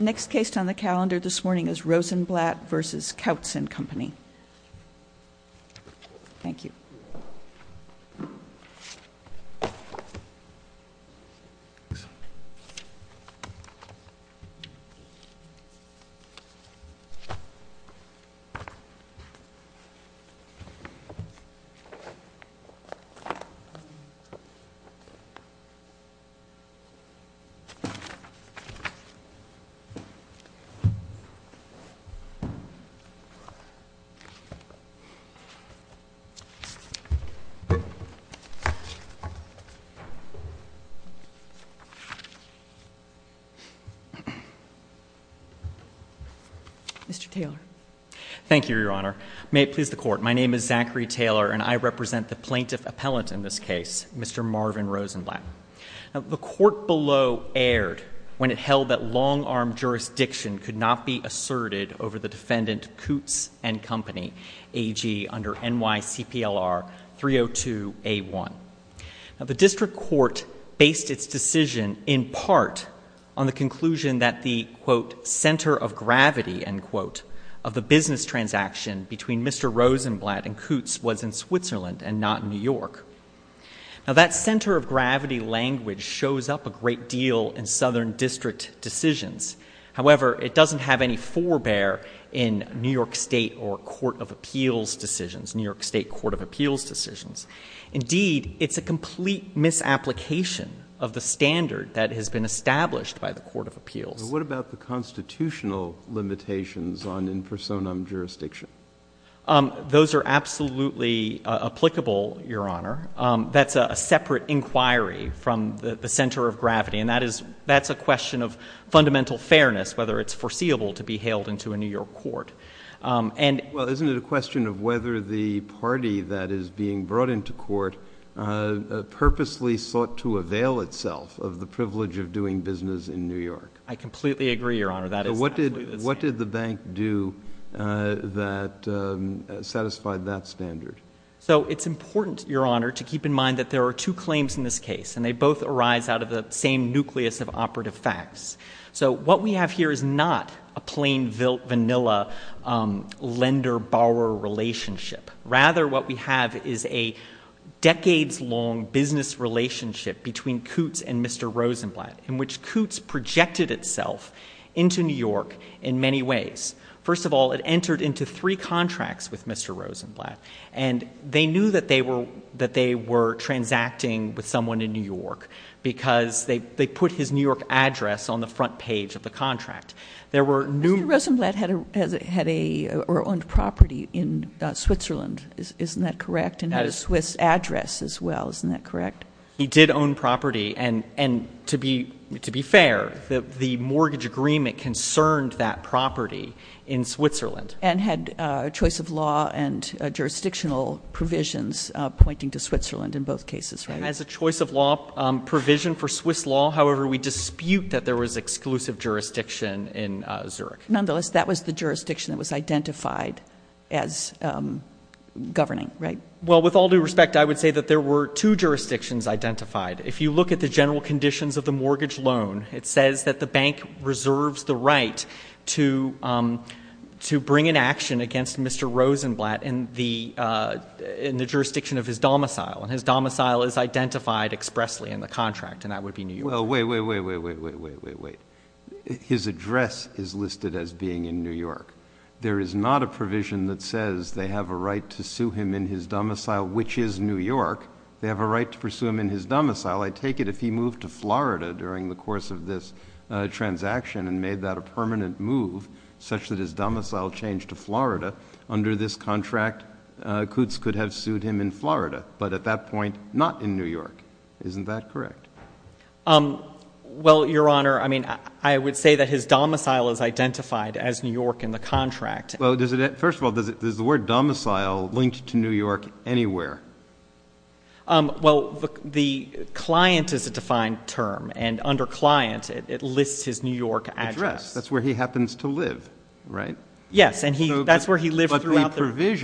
Next case on the calendar this morning is Rosenblatt v. Coutts & Company. Thank you. Mr. Taylor. Thank you, Your Honor. May it please the Court, my name is Zachary Taylor and I represent the plaintiff appellant in this case, Mr. Marvin Rosenblatt. The Court below erred when it held that long-arm jurisdiction could not be asserted over the defendant Coutts & Company AG under NYCPLR 302A1. The District Court based its decision in part on the conclusion that the, quote, center of gravity, end quote, of the business transaction between Mr. Rosenblatt and Coutts was in Switzerland and not in New York. Now, that center of gravity language shows up a great deal in Southern District decisions. However, it doesn't have any forebear in New York State or Court of Appeals decisions, New York State Court of Appeals decisions. Indeed, it's a complete misapplication of the standard that has been established by the Court of Appeals. But what about the constitutional limitations on impersonum jurisdiction? Those are absolutely applicable, Your Honor. That's a separate inquiry from the center of gravity, and that is, that's a question of fundamental fairness, whether it's foreseeable to be hailed into a New York court. And well, isn't it a question of whether the party that is being brought into court purposely sought to avail itself of the privilege of doing business in New York? I completely agree, Your Honor. What did the bank do that satisfied that standard? So it's important, Your Honor, to keep in mind that there are two claims in this case, and they both arise out of the same nucleus of operative facts. So what we have here is not a plain vanilla lender-borrower relationship. Rather, what we have is a decades-long business relationship between Coutts and Mr. Rosenblatt, in which Coutts projected itself into New York in many ways. First of all, it entered into three contracts with Mr. Rosenblatt. And they knew that they were transacting with someone in New York, because they put his New York address on the front page of the contract. There were new- Mr. Rosenblatt had a, or owned property in Switzerland, isn't that correct? And had a Swiss address as well, isn't that correct? He did own property, and to be fair, the mortgage agreement concerned that property in Switzerland. And had a choice of law and jurisdictional provisions pointing to Switzerland in both cases, right? As a choice of law provision for Swiss law, however, we dispute that there was exclusive jurisdiction in Zurich. Nonetheless, that was the jurisdiction that was identified as governing, right? Well, with all due respect, I would say that there were two jurisdictions identified. If you look at the general conditions of the mortgage loan, it says that the bank reserves the right to bring an action against Mr. Rosenblatt in the jurisdiction of his domicile. And his domicile is identified expressly in the contract, and that would be New York. Well, wait, wait, wait, wait, wait, wait, wait, wait. His address is listed as being in New York. There is not a provision that says they have a right to sue him in his domicile, which is New York. They have a right to pursue him in his domicile. I take it if he moved to Florida during the course of this transaction and made that a permanent move, such that his domicile changed to Florida, under this contract, Kutz could have sued him in Florida, but at that point, not in New York. Isn't that correct? Well, Your Honor, I mean, I would say that his domicile is identified as New York in the contract. Well, first of all, does the word domicile link to New York anywhere? Well, the client is a defined term, and under client, it lists his New York address. That's where he happens to live, right? Yes, and that's where he lived throughout the- His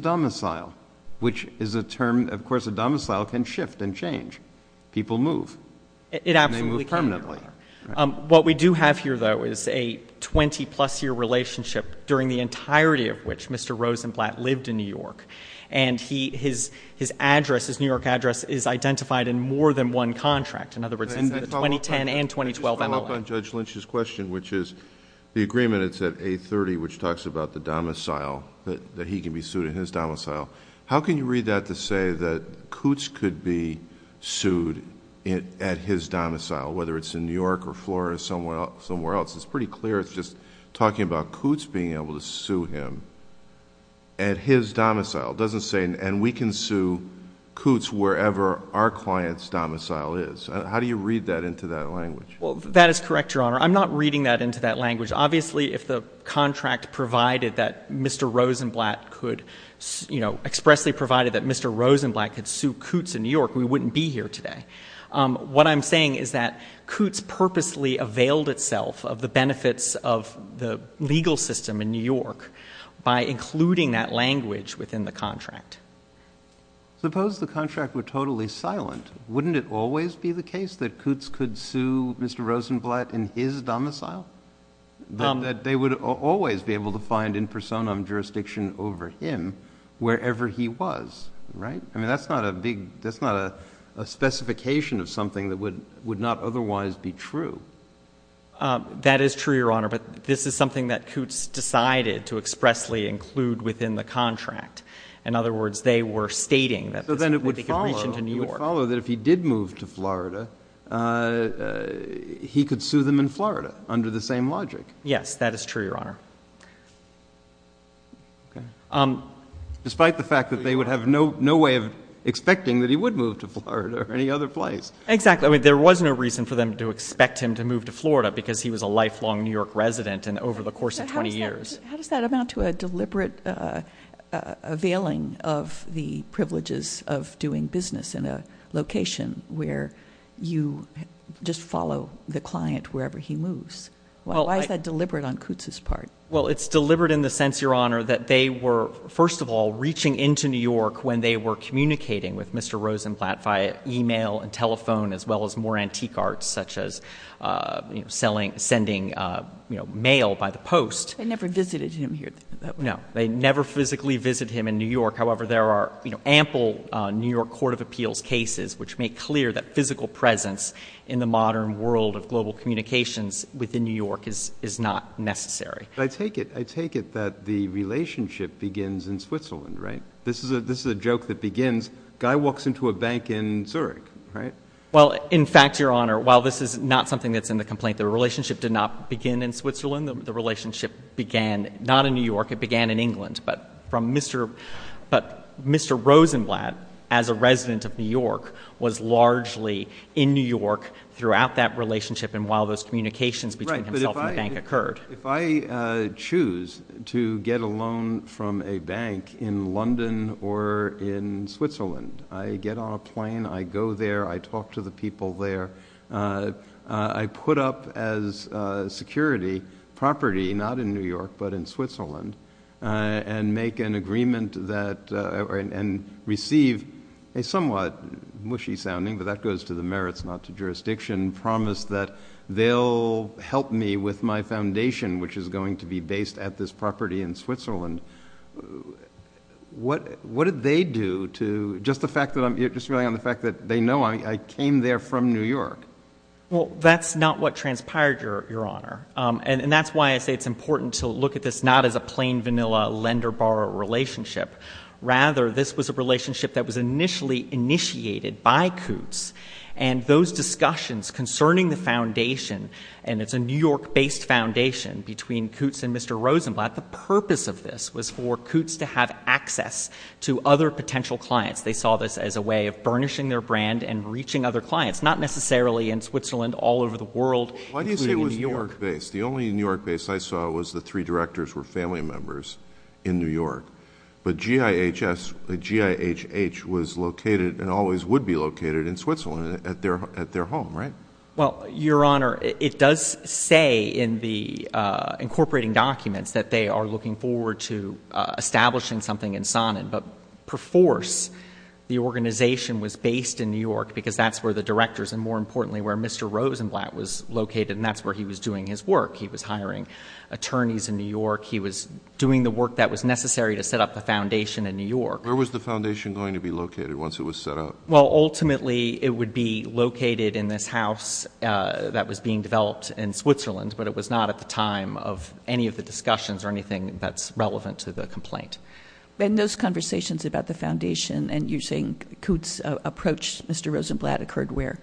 domicile, which is a term, of course, a domicile can shift and change. People move. It absolutely can. And they move permanently. What we do have here, though, is a 20 plus year relationship during the entirety of which Mr. Rosenblatt lived in New York. And his address, his New York address, is identified in more than one contract. In other words, in the 2010 and 2012 MLA. I want to follow up on Judge Lynch's question, which is the agreement, it's at A30, which talks about the domicile, that he can be sued in his domicile. How can you read that to say that Coutts could be sued at his domicile, whether it's in New York or Florida or somewhere else, it's pretty clear. It's just talking about Coutts being able to sue him at his domicile. It doesn't say, and we can sue Coutts wherever our client's domicile is. How do you read that into that language? That is correct, Your Honor. I'm not reading that into that language. Obviously, if the contract provided that Mr. Rosenblatt could, expressly provided that Mr. Rosenblatt could sue Coutts in New York, we wouldn't be here today. What I'm saying is that Coutts purposely availed itself of the benefits of the legal system in New York by including that language within the contract. Suppose the contract were totally silent. Wouldn't it always be the case that Coutts could sue Mr. Rosenblatt in his domicile? That they would always be able to find in personam jurisdiction over him, wherever he was, right? I mean, that's not a big, that's not a specification of something that would not otherwise be true. That is true, Your Honor, but this is something that Coutts decided to expressly include within the contract. In other words, they were stating that they could reach into New York. So then it would follow that if he did move to Florida, he could sue them in Florida under the same logic? Yes, that is true, Your Honor. Despite the fact that they would have no way of expecting that he would move to Florida or any other place. Exactly. I mean, there was no reason for them to expect him to move to Florida because he was a lifelong New York resident and over the course of 20 years. How does that amount to a deliberate availing of the privileges of doing business in a location where you just follow the client wherever he moves? Why is that deliberate on Coutts' part? Well, it's deliberate in the sense, Your Honor, that they were, first of all, reaching into New York when they were communicating with Mr. Rosenblatt via email and telephone, as well as more antique arts, such as sending mail by the post. They never visited him here, did they? No, they never physically visit him in New York. However, there are ample New York Court of Appeals cases which make clear that physical presence in the modern world of global communications within New York is not necessary. I take it that the relationship begins in Switzerland, right? This is a joke that begins, guy walks into a bank in Zurich, right? Well, in fact, Your Honor, while this is not something that's in the complaint, the relationship did not begin in Switzerland. The relationship began not in New York, it began in England. But Mr. Rosenblatt, as a resident of New York, was largely in New York throughout that relationship and while those communications between himself and the bank occurred. If I choose to get a loan from a bank in London or in Switzerland, I get on a plane, I go there, I talk to the people there. I put up as security property, not in New York, but in Switzerland, and make an agreement and receive a somewhat mushy-sounding, but that goes to the merits, not to jurisdiction, promise that they'll help me with my foundation, which is going to be based at this property in Switzerland. What did they do to, just relying on the fact that they know, I came there from New York. Well, that's not what transpired, Your Honor. And that's why I say it's important to look at this not as a plain, vanilla lender-borrower relationship. Rather, this was a relationship that was initially initiated by Coots, and those discussions concerning the foundation, and it's a New York-based foundation between Coots and Mr. Rosenblatt. The purpose of this was for Coots to have access to other potential clients. They saw this as a way of burnishing their brand and reaching other clients, not necessarily in Switzerland, all over the world, including New York. Why do you say it was New York-based? The only New York-based I saw was the three directors were family members in New York. But GIHS, G-I-H-H, was located and always would be located in Switzerland at their home, right? Well, Your Honor, it does say in the incorporating documents that they are looking forward to establishing something in Saanen. But per force, the organization was based in New York because that's where the directors, and more importantly, where Mr. Rosenblatt was located, and that's where he was doing his work. He was hiring attorneys in New York. He was doing the work that was necessary to set up the foundation in New York. Where was the foundation going to be located once it was set up? Well, ultimately, it would be located in this house that was being developed in Switzerland, but it was not at the time of any of the discussions or anything that's relevant to the complaint. In those conversations about the foundation, and you're saying Coots approached Mr. Rosenblatt, occurred where?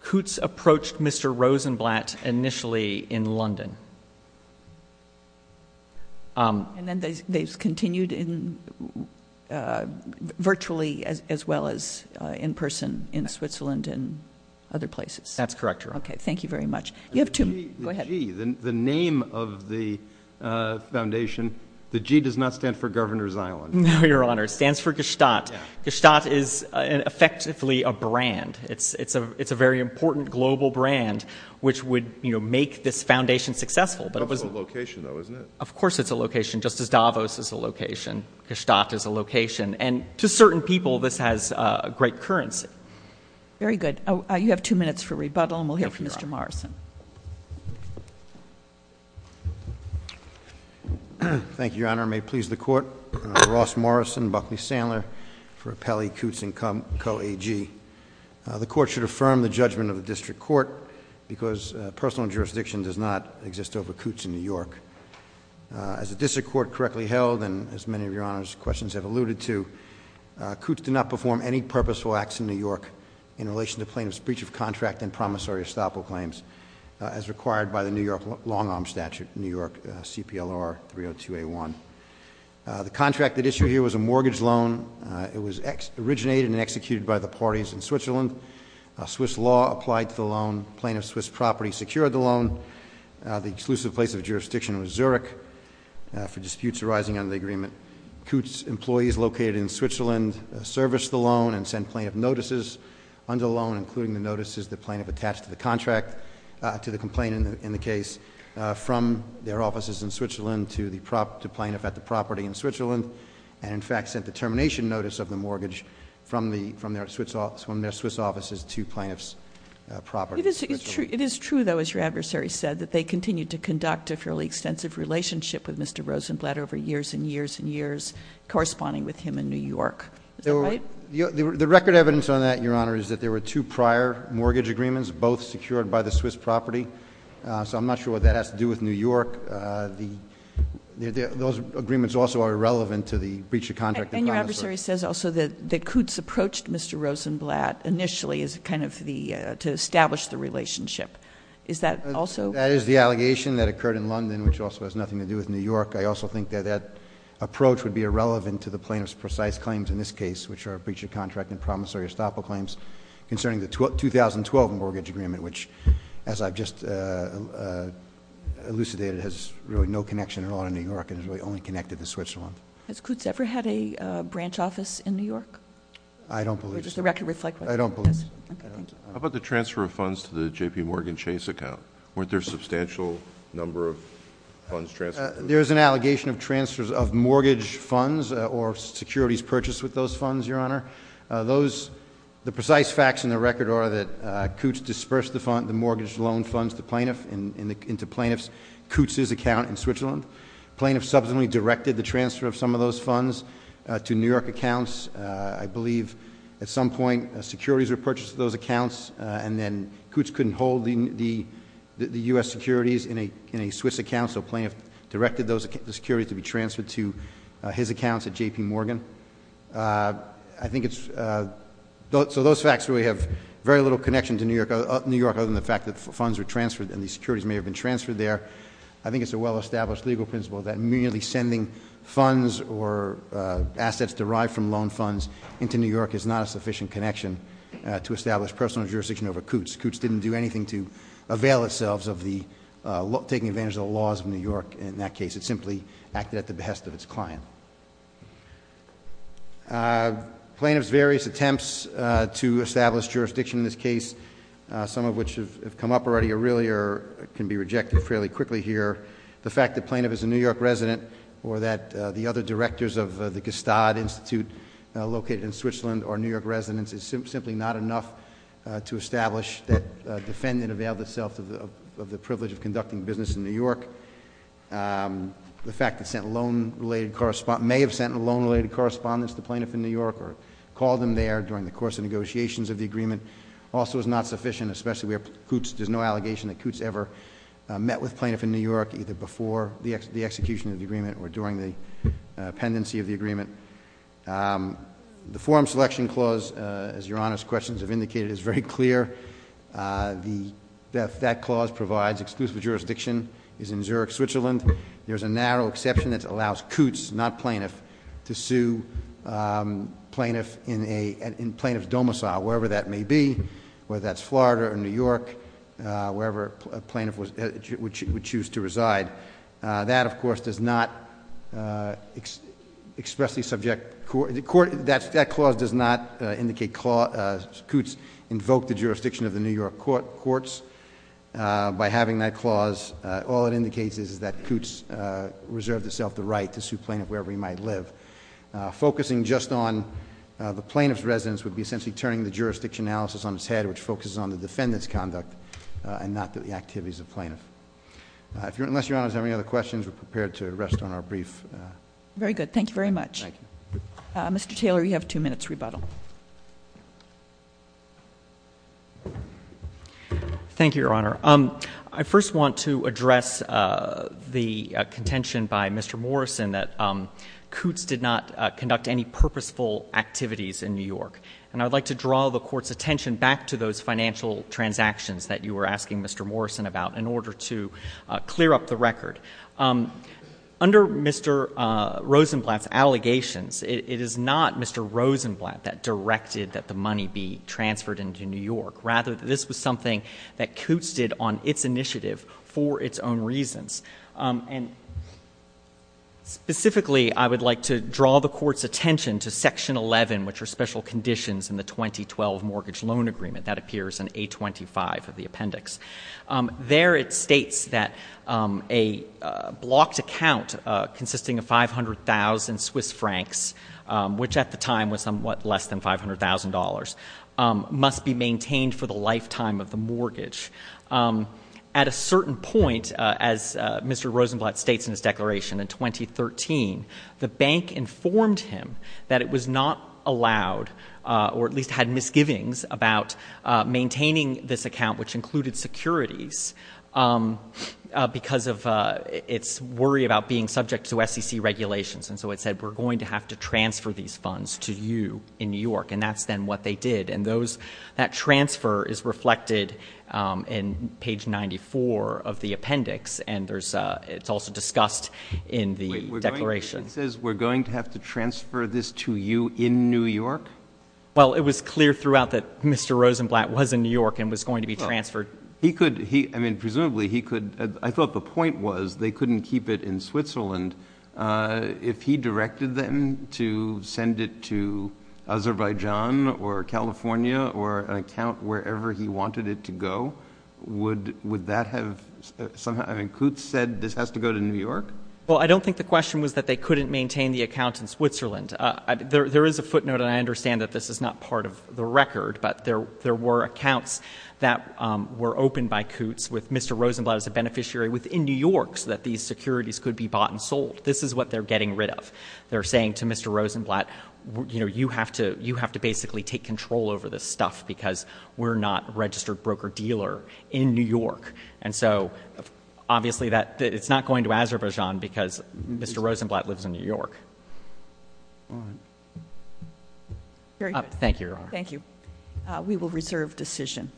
Coots approached Mr. Rosenblatt initially in London. And then they've continued virtually as well as in person in Switzerland and other places. That's correct, Your Honor. Okay, thank you very much. You have two, go ahead. The G, the name of the foundation, the G does not stand for Governor's Island. No, Your Honor, it stands for Gestat. Gestat is effectively a brand. It's a very important global brand which would make this foundation successful. But it was a location though, isn't it? Of course it's a location, just as Davos is a location, Gestat is a location. And to certain people, this has great currency. Very good. You have two minutes for rebuttal, and we'll hear from Mr. Morrison. Thank you, Your Honor. May it please the court. Ross Morrison, Buckley Sandler for Appellee Coots and Co AG. The court should affirm the judgment of the district court, because personal jurisdiction does not exist over Coots in New York. As the district court correctly held, and as many of your Honor's questions have alluded to, Coots did not perform any purposeful acts in New York in relation to plaintiff's breach of contract and promissory estoppel claims as required by the New York long arm statute, New York CPLR 302A1. The contract that issued here was a mortgage loan. It was originated and executed by the parties in Switzerland. Swiss law applied to the loan, plaintiff's Swiss property secured the loan. The exclusive place of jurisdiction was Zurich for disputes arising under the agreement. Coots' employees located in Switzerland serviced the loan and sent plaintiff notices under loan including the notices the plaintiff attached to the contract, to the complaint in the case. From their offices in Switzerland to the plaintiff at the property in Switzerland. And in fact sent the termination notice of the mortgage from their Swiss offices to plaintiff's property. It is true though, as your adversary said, that they continue to conduct a fairly extensive relationship with Mr. Rosenblatt over years and years and years, corresponding with him in New York. Is that right? The record evidence on that, Your Honor, is that there were two prior mortgage agreements, both secured by the Swiss property. So I'm not sure what that has to do with New York. Those agreements also are irrelevant to the breach of contract. And your adversary says also that Coots approached Mr. Rosenblatt initially to establish the relationship. Is that also- That is the allegation that occurred in London, which also has nothing to do with New York. I also think that that approach would be irrelevant to the plaintiff's precise claims in this case, which are breach of contract and promissory estoppel claims concerning the 2012 mortgage agreement, which, as I've just elucidated, has really no connection at all to New York and has really only connected to Switzerland. Has Coots ever had a branch office in New York? I don't believe so. Does the record reflect that? I don't believe so. Okay, thank you. How about the transfer of funds to the JPMorgan Chase account? Weren't there a substantial number of funds transferred? There's an allegation of transfers of mortgage funds or securities purchased with those funds, Your Honor. The precise facts in the record are that Coots dispersed the mortgage loan funds to plaintiff into plaintiff's Coots' account in Switzerland. Plaintiff subsequently directed the transfer of some of those funds to New York accounts. I believe at some point, securities were purchased to those accounts and then Coots couldn't hold the US securities in a Swiss account, so plaintiff directed the securities to be transferred to his accounts at JPMorgan. So those facts really have very little connection to New York other than the fact that funds were transferred and the securities may have been transferred there. I think it's a well established legal principle that merely sending funds or assets derived from loan funds into New York is not a sufficient connection to establish personal jurisdiction over Coots. Coots didn't do anything to avail itself of taking advantage of the laws of New York in that case. It simply acted at the behest of its client. Plaintiff's various attempts to establish jurisdiction in this case, some of which have come up already or really can be rejected fairly quickly here. The fact that plaintiff is a New York resident or that the other directors of the Gestad Institute located in Switzerland or New York residents is simply not enough to establish that defendant availed itself of the privilege of conducting business in New York. The fact that sent a loan related correspondence, may have sent a loan related correspondence to plaintiff in New York or called them there during the course of negotiations of the agreement also is not sufficient, especially where Coots, there's no allegation that Coots ever met with plaintiff in New York, either before the execution of the agreement or during the pendency of the agreement. The forum selection clause, as your honors questions have indicated, is very clear. That clause provides exclusive jurisdiction is in Zurich, Switzerland. There's a narrow exception that allows Coots, not plaintiff, to sue plaintiff in plaintiff's domicile, wherever that may be. Whether that's Florida or New York, wherever a plaintiff would choose to reside. That, of course, does not expressly subject, that clause does not indicate Coots invoked the jurisdiction of the New York courts. By having that clause, all it indicates is that Coots reserved itself the right to sue plaintiff wherever he might live. Focusing just on the plaintiff's residence would be essentially turning the jurisdiction analysis on its head, which focuses on the defendant's conduct and not the activities of plaintiff. Unless your honors have any other questions, we're prepared to rest on our brief. Very good, thank you very much. Mr. Taylor, you have two minutes rebuttal. Thank you, your honor. I first want to address the contention by Mr. Morrison that Coots did not conduct any purposeful activities in New York. And I'd like to draw the court's attention back to those financial transactions that you were asking Mr. Morrison about in order to clear up the record. Under Mr. Rosenblatt's allegations, it is not Mr. Rosenblatt that directed that the money be transferred into New York. Rather, this was something that Coots did on its initiative for its own reasons. And specifically, I would like to draw the court's attention to section 11, which are special conditions in the 2012 mortgage loan agreement that appears in 825 of the appendix. There it states that a blocked account consisting of 500,000 Swiss francs, which at the time was somewhat less than $500,000, must be maintained for the lifetime of the mortgage. At a certain point, as Mr. Rosenblatt states in his declaration in 2013, the bank informed him that it was not allowed, or at least had misgivings about maintaining this account, which included securities, because of its worry about being subject to SEC regulations. And so it said, we're going to have to transfer these funds to you in New York. And that's then what they did. And that transfer is reflected in page 94 of the appendix. And it's also discussed in the declaration. It says we're going to have to transfer this to you in New York? Well, it was clear throughout that Mr. Rosenblatt was in New York and was going to be transferred. He could, I mean, presumably he could, I thought the point was they couldn't keep it in Switzerland. If he directed them to send it to Azerbaijan or California or an account wherever he wanted it to go, would that have, somehow, I mean, Kutz said this has to go to New York? Well, I don't think the question was that they couldn't maintain the account in Switzerland. There is a footnote, and I understand that this is not part of the record, but there were accounts that were opened by Kutz with Mr. Rosenblatt as a beneficiary within New York so that these securities could be bought and sold. This is what they're getting rid of. They're saying to Mr. Rosenblatt, you have to basically take control over this stuff, because we're not a registered broker dealer in New York. And so, obviously, it's not going to Azerbaijan, because Mr. Rosenblatt lives in New York. All right. Very good. Thank you, Your Honor. Thank you. We will reserve decision.